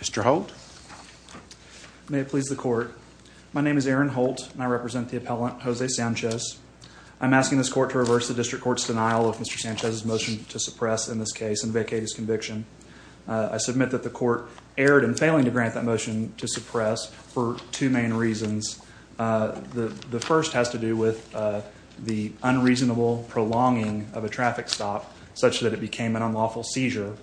Mr. Holt. May it please the court. My name is Aaron Holt and I represent the appellant Jose Sanchez. I'm asking this court to reverse the district court's denial of Mr. Sanchez's motion to suppress in this case and vacate his conviction. I submit that the court erred in failing to grant that motion to suppress for two main reasons. The first has to do with the unreasonable prolonging of a traffic stop such that it became an unlawful seizure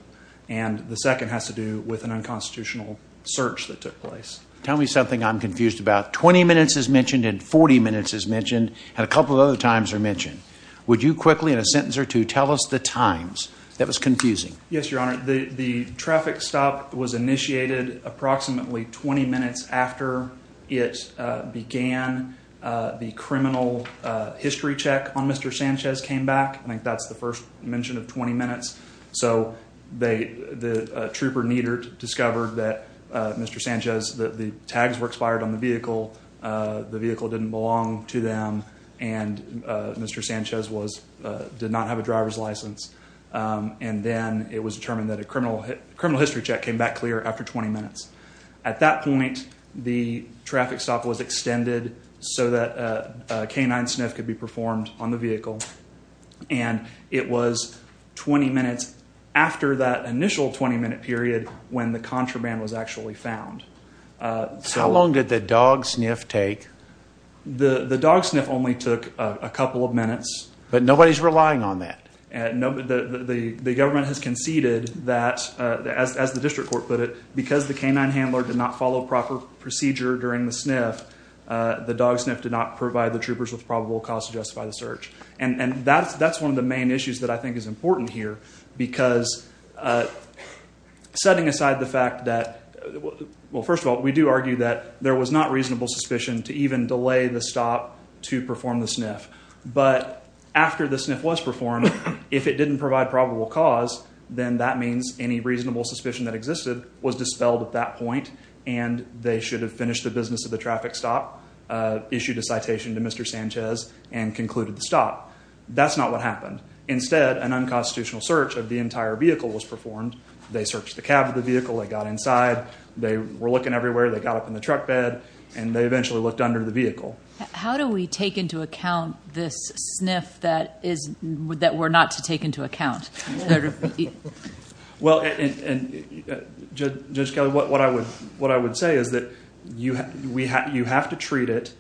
and the second has to do with an unconstitutional search that took place. Tell me something I'm confused about. 20 minutes is mentioned and 40 minutes is mentioned and a couple of other times are mentioned. Would you quickly in a sentence or two tell us the times? That was confusing. Yes, your honor. The traffic stop was initiated approximately 20 minutes after it began the criminal history check on Mr. Sanchez came back. I think that's the first mention of 20 minutes. So the trooper discovered that Mr. Sanchez, that the tags were expired on the vehicle. The vehicle didn't belong to them and Mr. Sanchez did not have a driver's license and then it was determined that a criminal history check came back clear after 20 minutes. At that point the traffic stop was extended so that a canine sniff could be performed on the vehicle and it was 20 minutes after that initial 20-minute period when the contraband was actually found. How long did the dog sniff take? The dog sniff only took a couple of minutes. But nobody's relying on that? The government has conceded that, as the district court put it, because the canine sniff, the dog sniff did not provide the troopers with probable cause to justify the search. And that's one of the main issues that I think is important here because setting aside the fact that, well first of all, we do argue that there was not reasonable suspicion to even delay the stop to perform the sniff. But after the sniff was performed, if it didn't provide probable cause, then that means any reasonable suspicion that existed was dispelled at that point and they should have finished the business of the traffic stop, issued a citation to Mr. Sanchez, and concluded the stop. That's not what happened. Instead, an unconstitutional search of the entire vehicle was performed. They searched the cab of the vehicle, they got inside, they were looking everywhere, they got up in the truck bed, and they eventually looked under the vehicle. How do we take into account this sniff that we're not to take into account? Well, Judge Kelly, what I would say is that you have to treat it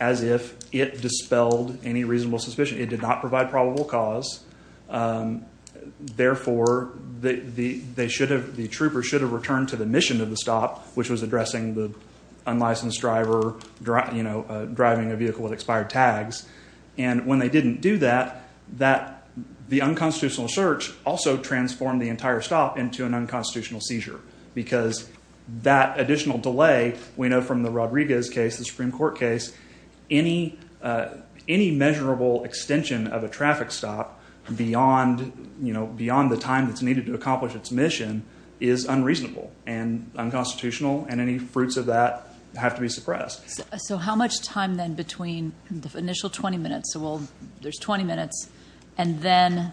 as if it dispelled any reasonable suspicion. It did not provide probable cause. Therefore, the troopers should have returned to the mission of the stop, which was addressing the unlicensed driver driving a vehicle with expired tags. And when they didn't do that, the unconstitutional search also transformed the entire stop into an unconstitutional seizure. Because that additional delay, we know from the Rodriguez case, the Supreme Court case, any measurable extension of a traffic stop beyond the time that's needed to accomplish its mission is unreasonable and unconstitutional, and any fruits of that have to be suppressed. So how much time then between the initial 20 minutes, so there's 20 minutes, and then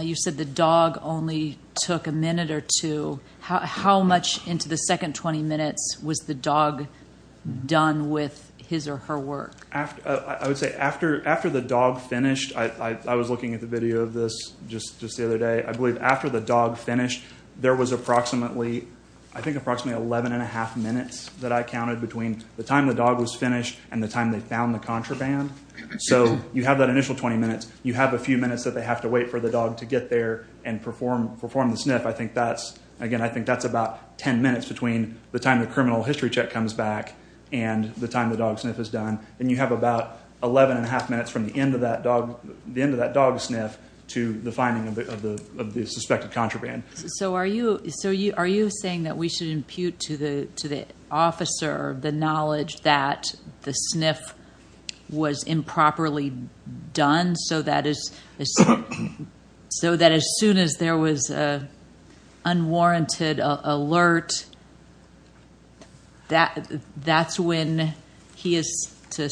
you said the dog only took a minute or two. How much into the second 20 minutes was the dog done with his or her work? I would say after the dog finished, I was looking at the video of this just the other day, I believe after the dog finished, there was approximately, I think approximately 11 and a half minutes that I counted between the time the dog was you have that initial 20 minutes, you have a few minutes that they have to wait for the dog to get there and perform the sniff. I think that's, again, I think that's about 10 minutes between the time the criminal history check comes back and the time the dog sniff is done. And you have about 11 and a half minutes from the end of that dog sniff to the finding of the suspected contraband. So are you saying that we should impute to the officer the knowledge that the sniff was improperly done so that as soon as there was a unwarranted alert, that's when he is to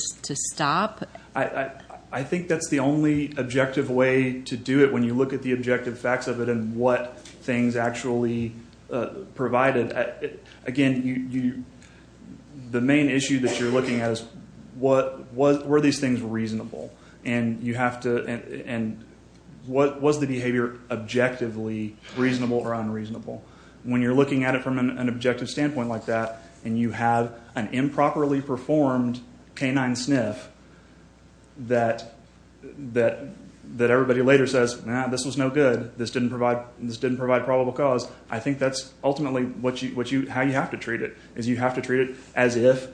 stop? I think that's the only objective way to do it when you look at the objective facts of it and what things actually provided. Again, the main issue that you're looking at is were these things reasonable? And you have to, and what was the behavior objectively reasonable or unreasonable? When you're looking at it from an objective standpoint like that and you have an improperly performed canine sniff that everybody later says, nah, this was no good, this didn't provide probable cause, I think that's ultimately how you have to treat it, is you have to treat it as if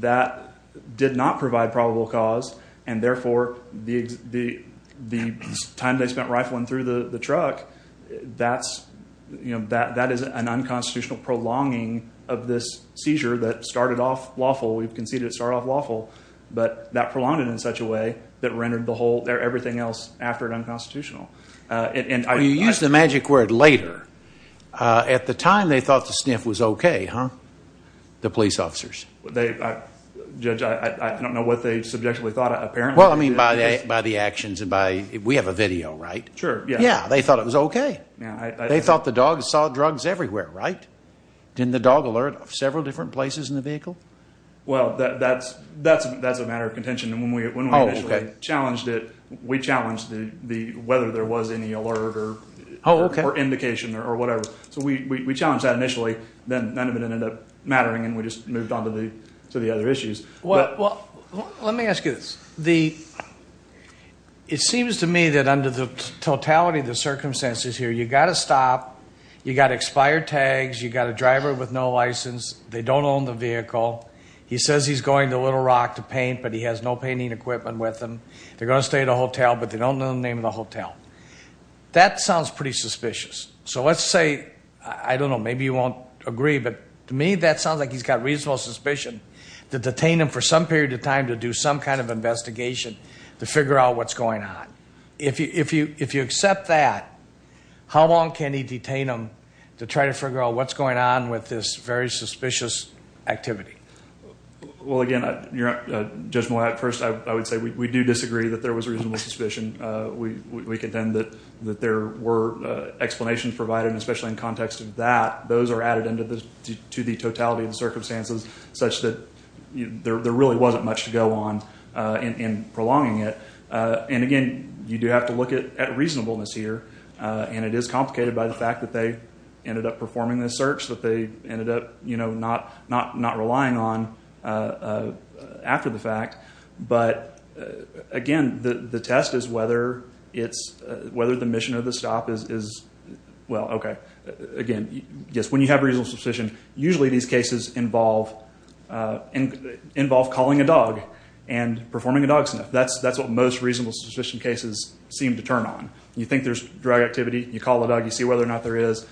that did not provide probable cause and therefore the time they spent rifling through the truck, that is an unconstitutional prolonging of this seizure that started off lawful. We've conceded it started off lawful, but that prolonged it in such a way that rendered the whole, everything else after it unconstitutional. You use the magic word later. At the time they thought the sniff was okay, huh? The police officers. Judge, I don't know what they subjectively thought apparently. Well, I mean by the actions and by, we have a video, right? Sure, yeah. Yeah, they thought it was okay. They thought the dog saw drugs everywhere, right? Didn't the dog alert several different places in the vehicle? Well, that's a matter of we challenged it, we challenged whether there was any alert or indication or whatever. So we challenged that initially, then none of it ended up mattering and we just moved on to the to the other issues. Well, let me ask you this. It seems to me that under the totality of the circumstances here, you got to stop, you got expired tags, you got a driver with no license, they don't own the vehicle, he says he's going to Little Rock to paint, but he has no painting equipment with him. They're going to stay at a hotel, but they don't know the name of the hotel. That sounds pretty suspicious. So let's say, I don't know, maybe you won't agree, but to me that sounds like he's got reasonable suspicion to detain him for some period of time to do some kind of investigation to figure out what's going on. If you accept that, how long can he detain him to try to figure out what's going on with this very suspicious activity? Well, again, Judge Mollat, first I would say we do disagree that there was reasonable suspicion. We contend that there were explanations provided, especially in context of that. Those are added into the totality of the circumstances such that there really wasn't much to go on in prolonging it. And again, you do have to look at reasonableness here and it is complicated by the fact that they ended up performing this search, that they ended up, you know, not relying on after the fact. But again, the test is whether it's, whether the mission of the stop is, well, okay. Again, yes, when you have reasonable suspicion, usually these cases involve calling a dog and performing a dog sniff. That's what most reasonable suspicion cases seem to turn on. You think there's drug activity, you call the dog, you see whether or not there is.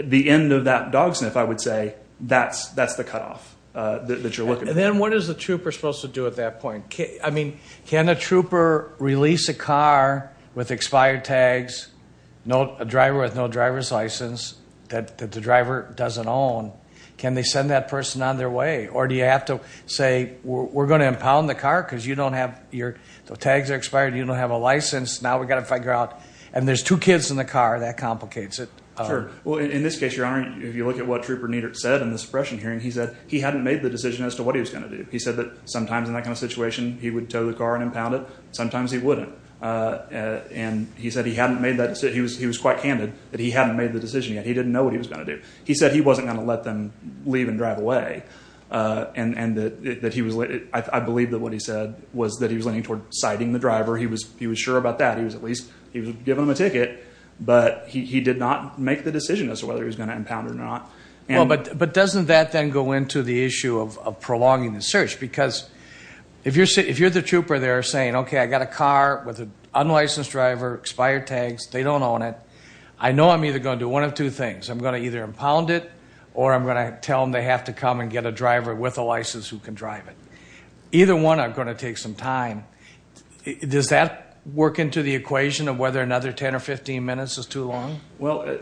The end of that dog sniff, I would say, that's the cutoff that you're looking at. And then what is the trooper supposed to do at that point? I mean, can a trooper release a car with expired tags, a driver with no driver's license that the driver doesn't own, can they send that person on their way? Or do you have to say, we're going to impound the car because you don't have, your tags are expired, you don't have a license, now we've got to figure out, and there's two kids in the car, that complicates it. Sure. Well, in this case, Your Honor, if you look at what Trooper Niedert said in the suppression hearing, he said he hadn't made the decision as to what he was going to do. He said that sometimes in that kind of situation, he would tow the car and impound it. Sometimes he wouldn't. And he said he hadn't made that, he was quite candid, that he hadn't made the decision yet. He didn't know what he was going to do. He said he wasn't going to let them leave and drive away. And that he was, I believe that what he said was that he was leaning toward citing the driver. He was sure about that. He was at least, he was giving him a ticket, but he did not make the decision as to whether he was going to impound it or not. Well, but doesn't that then go into the issue of prolonging the search? Because if you're the trooper there saying, okay, I got a car with an unlicensed driver, expired tags, they don't own it. I know I'm either going to do one of two things. I'm going to either impound it, or I'm going to tell them they have to come and get a driver with a license who can drive it. Either one, I'm going to take some time. Does that work into the equation of whether another 10 or 15 minutes is too long? Well,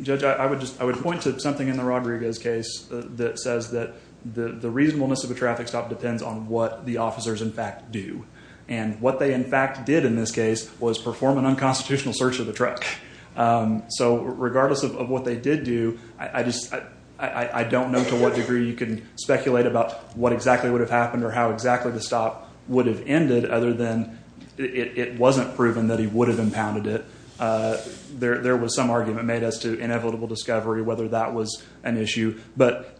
Judge, I would just, I would point to something in the Rodriguez case that says that the reasonableness of a traffic stop depends on what the officers in fact do. And what they in fact did in this case was perform an unconstitutional search of the truck. So regardless of what they did do, I just, I don't know to what degree you can speculate about what exactly would have happened or how exactly the stop would have ended other than it wasn't proven that he would have impounded it. There was some argument made as to inevitable discovery, whether that was an issue. But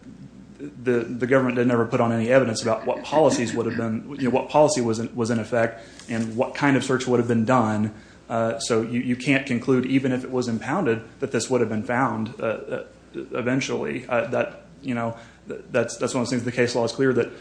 the government didn't ever put on any evidence about what policies would have been, what policy was in effect and what kind of search would have been done. So you can't conclude even if it was unfound eventually that, you know, that's, that's one of the things the case law is clear that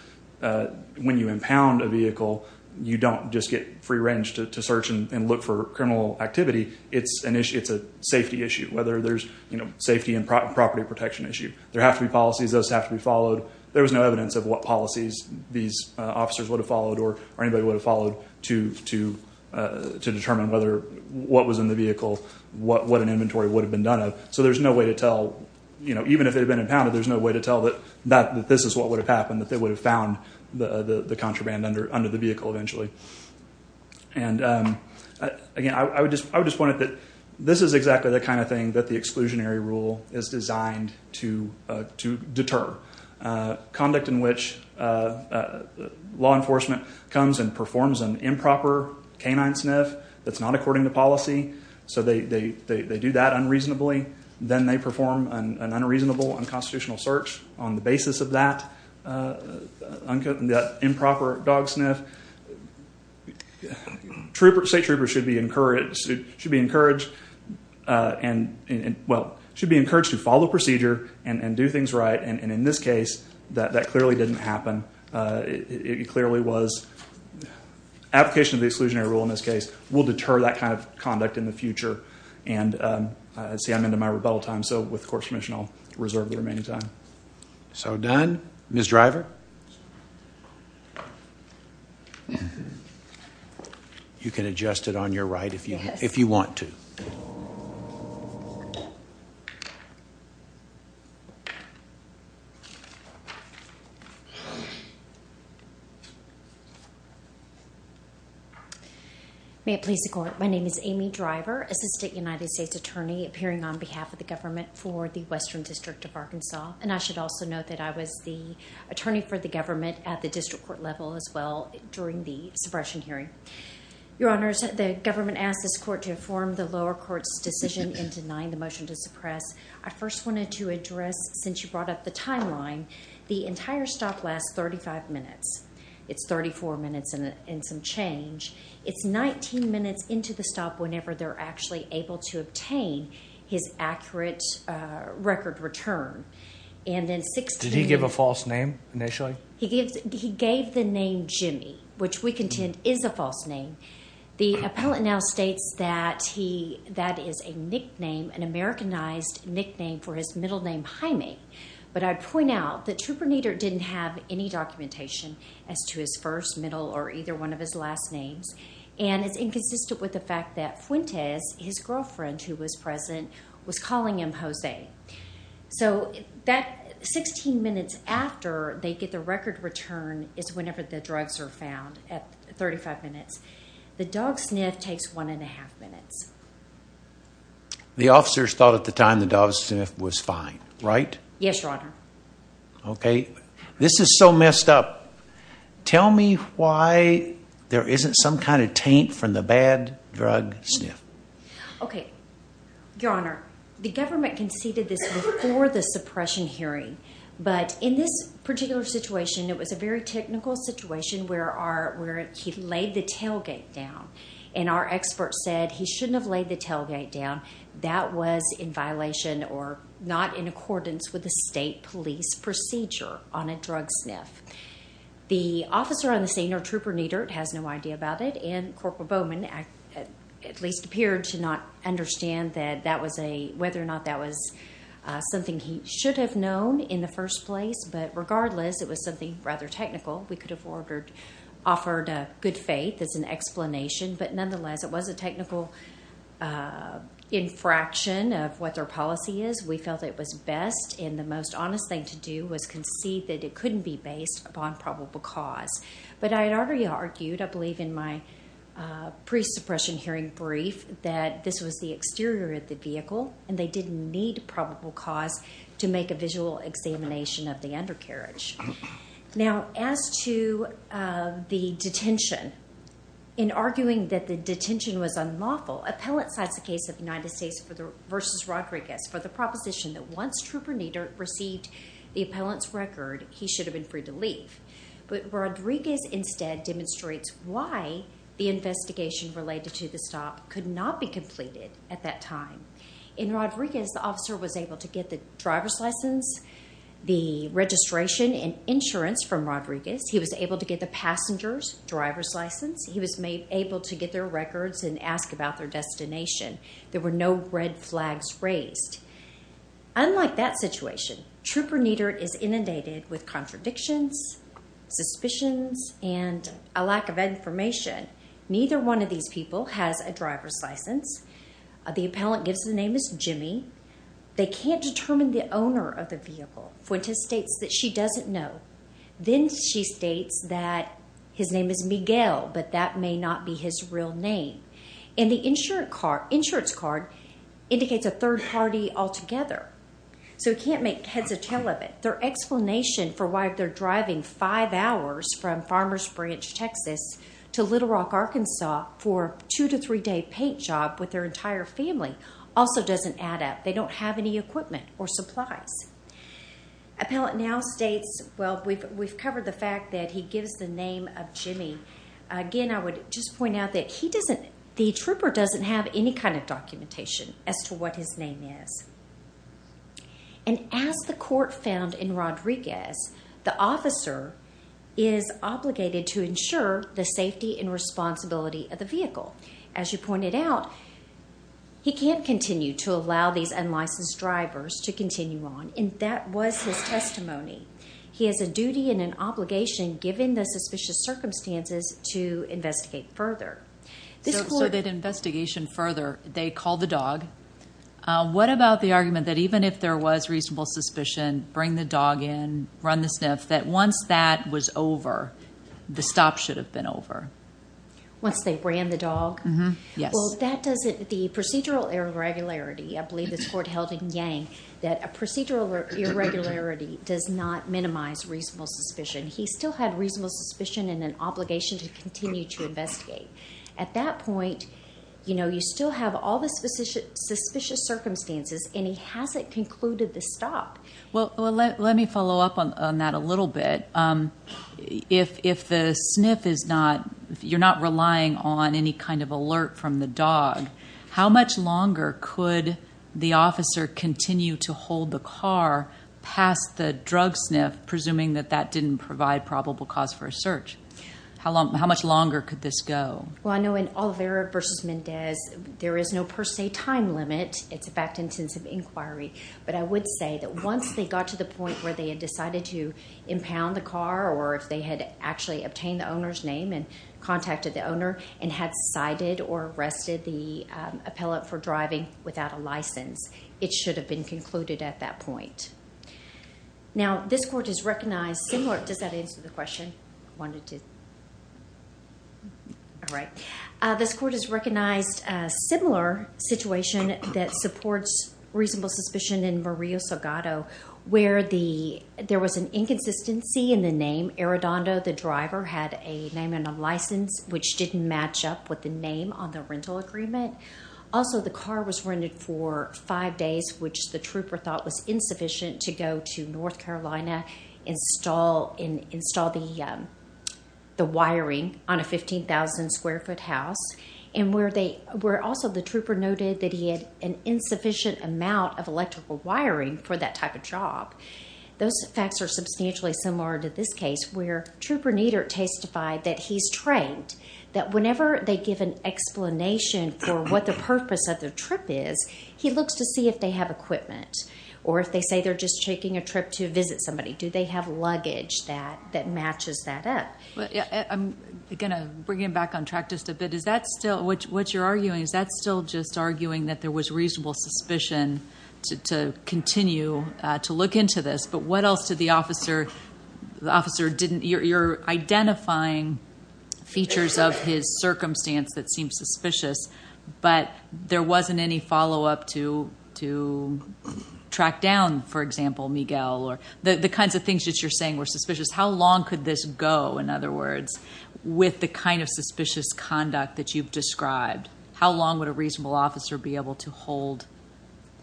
when you impound a vehicle, you don't just get free range to search and look for criminal activity. It's an issue, it's a safety issue, whether there's, you know, safety and property protection issue. There have to be policies, those have to be followed. There was no evidence of what policies these officers would have followed or anybody would have followed to, to, to determine whether what was in the vehicle, what, what an inventory would have been done of. So there's no way to tell, you know, even if they've been impounded, there's no way to tell that, that this is what would have happened, that they would have found the, the contraband under, under the vehicle eventually. And again, I would just, I would just point out that this is exactly the kind of thing that the exclusionary rule is designed to, to deter. Conduct in which law enforcement comes and performs an improper canine sniff that's not according to policy. So they, they, they, they do that unreasonably. Then they perform an unreasonable unconstitutional search on the basis of that, that improper dog sniff. Troopers, state troopers should be encouraged, should be encouraged and, well, should be encouraged to follow the procedure and, and do things right. And, and in this case that, that clearly didn't happen. It clearly was application of the exclusionary rule in this case will deter that kind of conduct in the future. And let's see, I'm into my rebuttal time. So with the court's permission, I'll reserve the remaining time. So done. Ms. Driver. You can adjust it on your right if you, if you want to. May it please the court. My name is Amy Driver, Assistant United States Attorney appearing on behalf of the government for the Western District of Arkansas. And I should also note that I was the attorney for the government at the district court level as well during the suppression hearing. Your Honors, the government asked this court to inform the lower court's decision in denying the motion to suppress. I first wanted to address, since you brought up the 34 minutes and some change, it's 19 minutes into the stop whenever they're actually able to obtain his accurate record return. And then 16. Did he give a false name initially? He gave, he gave the name Jimmy, which we contend is a false name. The appellant now states that he, that is a nickname, an Americanized nickname for his middle name Jaime. But I'd point out that Supernitr didn't have any documentation as to his first, middle or either one of his last names. And it's inconsistent with the fact that Fuentes, his girlfriend who was present, was calling him Jose. So that 16 minutes after they get the record return is whenever the drugs are found at 35 minutes. The dog sniff takes one and a half minutes. The officers thought at the time the dog sniff was fine, right? Yes, your This is so messed up. Tell me why there isn't some kind of taint from the bad drug sniff. Okay, your honor, the government conceded this before the suppression hearing. But in this particular situation, it was a very technical situation where our, where he laid the tailgate down and our expert said he shouldn't have laid the tailgate down. That was in violation or not in accordance with the state police procedure on a drug sniff. The officer on the scene or Trooper Niedert has no idea about it. And Corporal Bowman at least appeared to not understand that that was a, whether or not that was something he should have known in the first place. But regardless, it was something rather technical. We could have ordered, offered a good faith as an explanation. But nonetheless, it was a technical, uh, infraction of what their policy is. We felt it was best in the most honest thing to do was concede that it couldn't be based upon probable cause. But I had already argued, I believe in my, uh, pre suppression hearing brief that this was the exterior of the vehicle and they didn't need probable cause to make a visual examination of the undercarriage. Now, as to, uh, the detention in arguing that the detention was unlawful. Appellate cites the case of United States versus Rodriguez for the proposition that once Trooper Niedert received the appellant's record, he should have been free to leave. But Rodriguez instead demonstrates why the investigation related to the stop could not be completed at that time. In Rodriguez, the officer was able to get the driver's license, the registration and insurance from Rodriguez. He was able to get the passenger's driver's license. He was made able to get their there were no red flags raised. Unlike that situation, Trooper Niedert is inundated with contradictions, suspicions and a lack of information. Neither one of these people has a driver's license. The appellant gives the name is Jimmy. They can't determine the owner of the vehicle. Fuentes states that she doesn't know. Then she states that his name is Miguel, but that may not be his real name. And the insurance card indicates a third party altogether. So we can't make heads of tail of it. Their explanation for why they're driving five hours from Farmers Branch, Texas to Little Rock, Arkansas for two to three day paint job with their entire family also doesn't add up. They don't have any equipment or supplies. Appellant now states, well, we've we've covered the fact that he gives the name of Jimmy again. I would just point out that he doesn't. The trooper doesn't have any kind of documentation as to what his name is. And as the court found in Rodriguez, the officer is obligated to ensure the safety and responsibility of the vehicle. As you pointed out, he can't continue to allow these unlicensed drivers to continue on. And that was his duty and an obligation, given the suspicious circumstances, to investigate further. So that investigation further, they called the dog. What about the argument that even if there was reasonable suspicion, bring the dog in, run the sniff, that once that was over, the stop should have been over? Once they ran the dog? Yes. Well, that doesn't... The procedural irregularity, I believe this court held in Yang, that a procedural irregularity does not minimize reasonable suspicion. He still had reasonable suspicion and an obligation to continue to investigate. At that point, you still have all the suspicious circumstances and he hasn't concluded the stop. Well, let me follow up on that a little bit. If the sniff is not... You're not relying on any kind of alert from the dog, how much longer could the officer continue to sniff, presuming that that didn't provide probable cause for a search? How much longer could this go? Well, I know in Olivera v. Mendez, there is no per se time limit. It's a fact-intensive inquiry. But I would say that once they got to the point where they had decided to impound the car, or if they had actually obtained the owner's name and contacted the owner, and had cited or arrested the appellate for driving without a license, it should have been concluded at that point. Now, this court has recognized similar... Does that answer the question? I wanted to... All right. This court has recognized a similar situation that supports reasonable suspicion in Murillo-Salgado, where there was an inconsistency in the name. Arredondo, the driver, had a name and a license, which didn't match up with the name on the rental agreement. Also, the car was rented for five days, which the trooper thought was insufficient to go to North Carolina, install the wiring on a 15,000 square foot house. And where also the trooper noted that he had an insufficient amount of electrical wiring for that type of job. Those facts are substantially similar to this case, where Trooper Niedert testified that he's trained, that whenever they give an explanation for what the purpose of their trip is, he looks to see if they have equipment, or if they say they're just taking a trip to visit somebody. Do they have luggage that matches that up? I'm going to bring you back on track just a bit. What you're arguing, is that still just arguing that there was reasonable suspicion to continue to look into this? But what else did the officer... You're identifying features of his circumstance that seem suspicious, but there wasn't any follow-up to track down, for example, Miguel, or the kinds of things that you're saying were suspicious. How long could this go, in other words, with the kind of suspicious conduct that you've described? How long would a reasonable officer be able to hold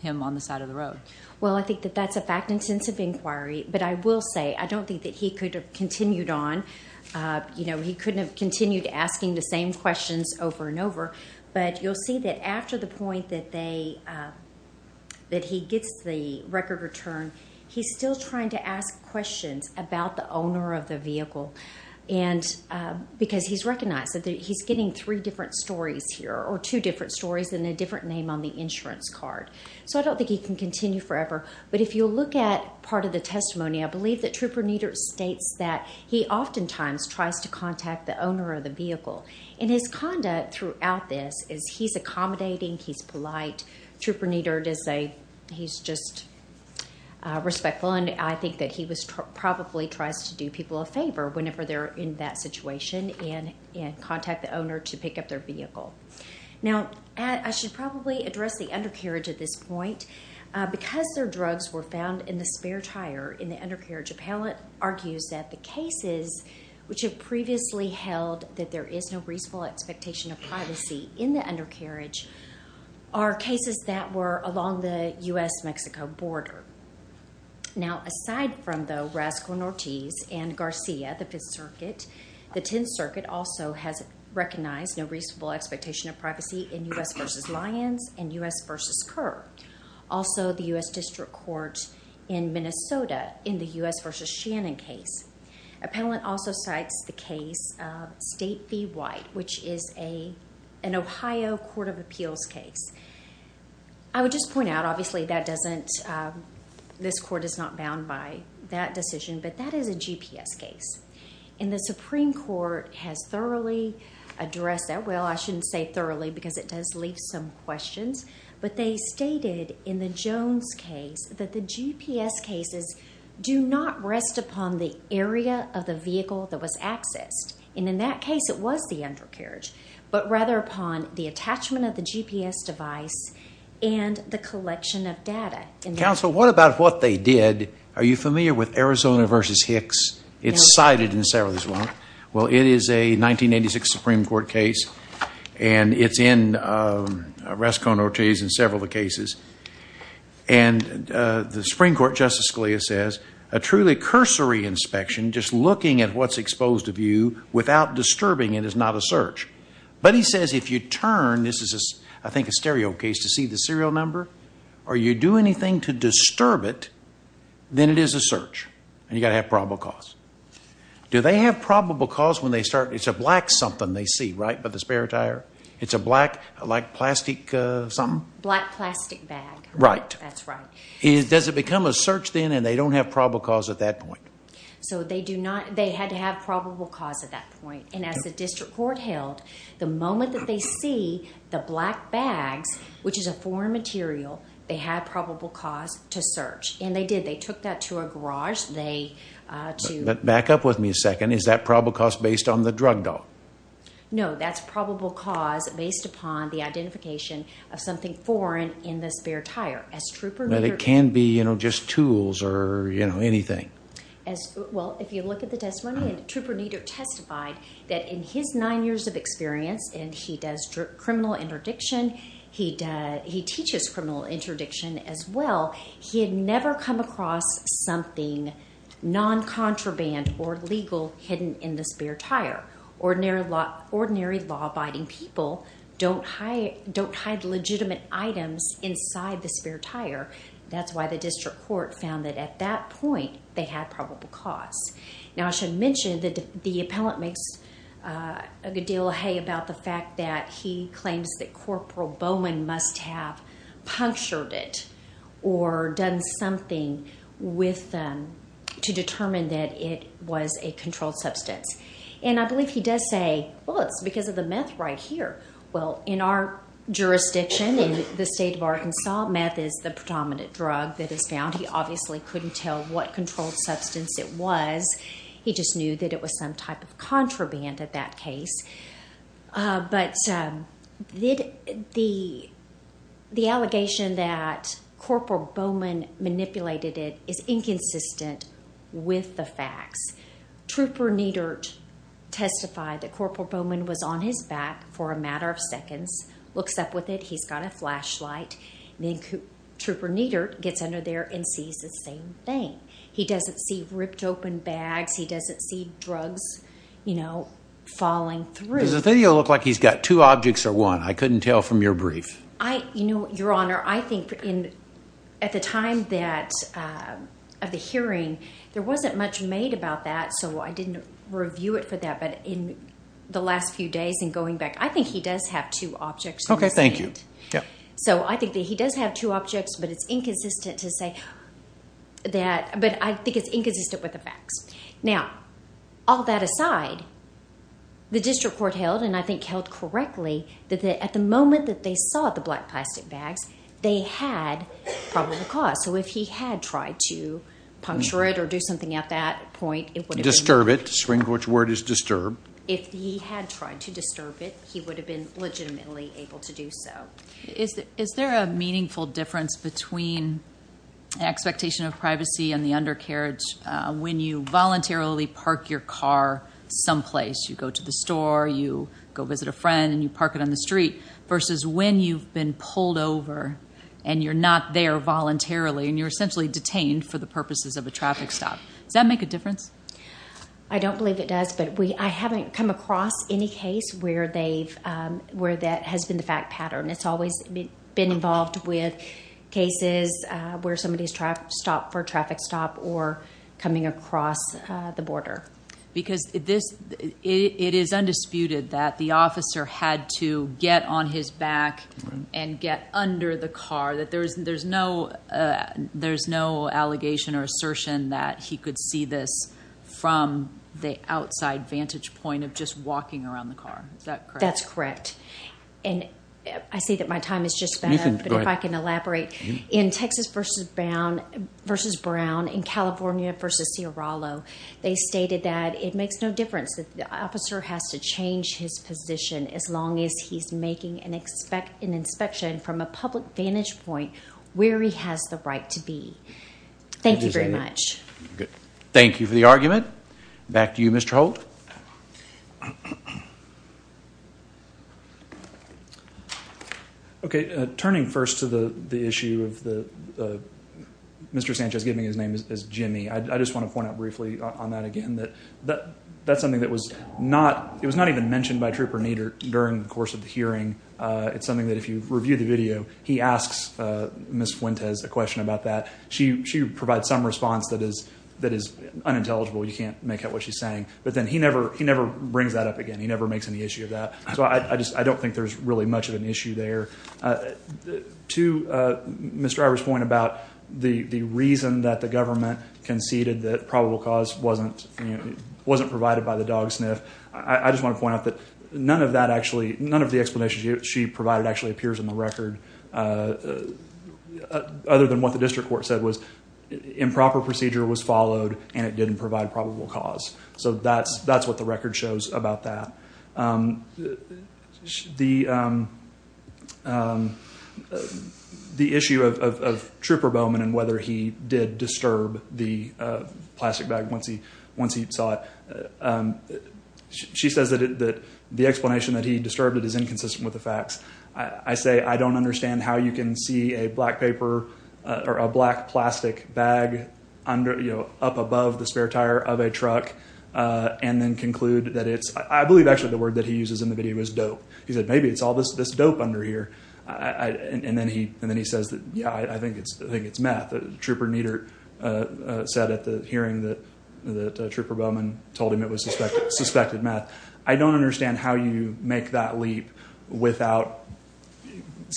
him on the side of the road? Well, I think that that's a fact and sense of inquiry. But I will say, I don't think that he could have continued on. He couldn't have continued asking the same questions over and over. But you'll see that after the point that he gets the record return, he's still trying to ask questions about the owner of the vehicle, because he's recognized that he's getting three different stories here, or two different stories and a different name on the insurance card. So I don't think he can continue forever. But if you look at part of the testimony, I believe that Trooper Niedert states that he oftentimes tries to contact the owner of the vehicle. And his conduct throughout this is he's accommodating, he's polite. Trooper Niedert is a, he's just respectful. And I think that he was probably tries to do people a favor whenever they're in that situation and contact the owner to pick up their vehicle. Now, I should probably address the undercarriage at this point. Because their drugs were found in the spare tire in the undercarriage. Appellate argues that the cases which have previously held that there is no reasonable expectation of privacy in the undercarriage are cases that were along the U.S.-Mexico border. Now, aside from the Rascal Nortiz and Garcia, the Fifth Circuit, the Tenth Circuit also has recognized no reasonable expectation of privacy in U.S. v. Lyons and U.S. v. Kerr. Also, the U.S. District Court in Minnesota in the U.S. v. Shannon case. Appellant also cites the case of State v. White, which is an Ohio Court of Appeals case. I would just point out, obviously, that doesn't, this court is not bound by that decision. But that is a GPS case. And the Supreme Court has thoroughly addressed that. Well, I shouldn't say thoroughly because it does leave some questions. But they stated in the Jones case that the GPS cases do not rest upon the area of the vehicle that was accessed. And in that case, it was the undercarriage. But rather upon the attachment of the GPS device and the collection of data. Counsel, what about what they did? Are you familiar with Arizona v. Hicks? It's cited in several of these ones. Well, it is a 1986 Supreme Court case. And it's in Rescon Ortiz and several of the cases. And the Supreme Court, Justice Scalia says, a truly cursory inspection, just looking at what's exposed of you without disturbing it is not a search. But he says if you turn, this is, I think, a stereo case, to see the serial number, or you do anything to disturb it, then it is a search. And you've got to have probable cause. Do they have probable cause when it's a black something they see, right, by the spare tire? It's a black, like, plastic something? Black plastic bag. Right. That's right. Does it become a search, then, and they don't have probable cause at that point? So they do not. They had to have probable cause at that point. And as the district court held, the moment that they see the black bags, which is a foreign material, they have probable cause to search. And they did. They took that to a garage. Back up with me a second. Is that probable cause based on the drug doll? No, that's probable cause based upon the identification of something foreign in the spare tire. As Trooper Neter did. But it can be, you know, just tools or, you know, anything. Well, if you look at the testimony, Trooper Neter testified that in his nine years of experience, and he does criminal interdiction, he teaches criminal interdiction as well, he had never come across something non- Ordinary law-abiding people don't hide legitimate items inside the spare tire. That's why the district court found that at that point, they had probable cause. Now, I should mention that the appellant makes a good deal of hay about the fact that he claims that Corporal Bowman must have punctured it or done something with them to determine that it was a controlled substance. And I believe he does say, well, it's because of the meth right here. Well, in our jurisdiction, in the state of Arkansas, meth is the predominant drug that is found. He obviously couldn't tell what controlled substance it was. He just knew that it was some type of Corporal Bowman manipulated it is inconsistent with the facts. Trooper Neter testified that Corporal Bowman was on his back for a matter of seconds, looks up with it. He's got a flashlight. Then Trooper Neter gets under there and sees the same thing. He doesn't see ripped open bags. He doesn't see drugs, you know, falling through. Does the video look like he's got two objects or one? I couldn't tell from your brief. You know, Your Honor, I think at the time of the hearing, there wasn't much made about that, so I didn't review it for that. But in the last few days and going back, I think he does have two objects. Okay. Thank you. So I think that he does have two objects, but it's inconsistent to say that. But I think it's inconsistent with the facts. Now, all that aside, the district court held, and I think held correctly, that at the moment that they saw the black plastic bags, they had probable cause. So if he had tried to puncture it or do something at that point, it would have been- Disturb it. The Supreme Court's word is disturb. If he had tried to disturb it, he would have been legitimately able to do so. Is there a meaningful difference between expectation of privacy and the undercarriage when you voluntarily park your car someplace? You go to the when you've been pulled over and you're not there voluntarily and you're essentially detained for the purposes of a traffic stop. Does that make a difference? I don't believe it does, but I haven't come across any case where that has been the fact pattern. It's always been involved with cases where somebody's stopped for a traffic stop or coming across the border. Because it is undisputed that the officer had to get on his back and get under the car. There's no allegation or assertion that he could see this from the outside vantage point of just walking around the car. Is that correct? That's correct. I see that my time is just about up, but if I can it makes no difference. The officer has to change his position as long as he's making an inspection from a public vantage point where he has the right to be. Thank you very much. Thank you for the argument. Back to you, Mr. Holt. Turning first to the issue of Mr. Sanchez giving his name as Jimmy. I just want to point out briefly on that again. That's something that was not even mentioned by Trooper Nieder during the course of the hearing. It's something that if you review the video, he asks Ms. Fuentes a question about that. She provides some response that is unintelligible. You can't make out what she's saying. But then he never brings that up again. He never makes any issue of that. So I don't think there's really much of an issue there. To Ms. Driver's point about the reason that the government conceded that probable cause wasn't provided by the dog sniff, I just want to point out that none of the explanations she provided actually appears in the record other than what the district court said was improper procedure was followed and it didn't provide probable cause. So that's what the record shows about that. The issue of Trooper Bowman and whether he did disturb the plastic bag once he saw it, she says that the explanation that he disturbed it is inconsistent with the facts. I say I don't understand how you can see a black paper or a black plastic bag up above the spare tire of a truck and then conclude that it's, I believe actually the word that he uses in the video is dope. He said maybe it's all this dope under here. And then he says that yeah, I think it's meth. Trooper Niedert said at the hearing that Trooper Bowman told him it was suspected meth. I don't understand how you make that leap without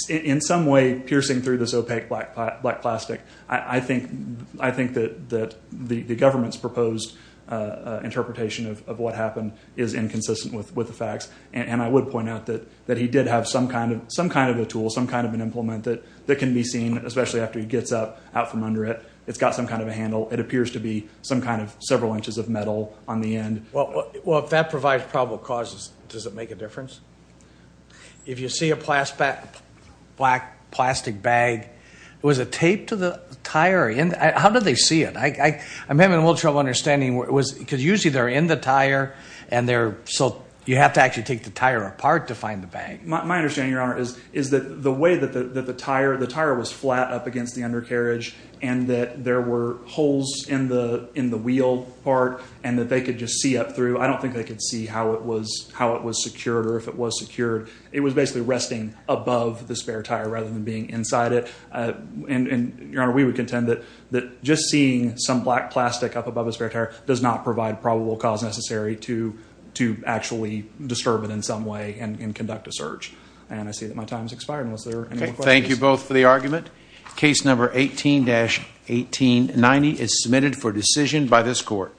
in some way piercing through this opaque black plastic. I think that the government's proposed interpretation of what happened is inconsistent with the facts. And I would point out that he did have some kind of a tool, some kind of an implement that can be seen, especially after he gets up out from under it. It's got some kind of a handle. It appears to be some kind of several inches of metal on the end. Well, if that provides probable causes, does it make a difference? If you see a black plastic bag, it was a tape to the tire. How did they see it? I'm having a little trouble understanding because usually they're in the tire and they're so you have to actually take the tire apart to find the bag. My understanding, your honor, is is that the way that the tire, the tire was flat up against the undercarriage and that there were holes in the in the wheel part and that they could just see up through. I don't think they could see how it was, how it was secured or if it was secured. It was basically resting above the spare tire rather than being inside it. And your honor, we would contend that that just seeing some black plastic up above the spare tire does not provide probable cause necessary to to actually disturb it in some way and conduct a search. And I see that my time has expired. Thank you both for the argument. Case number 18-1890 is submitted for decision by this court.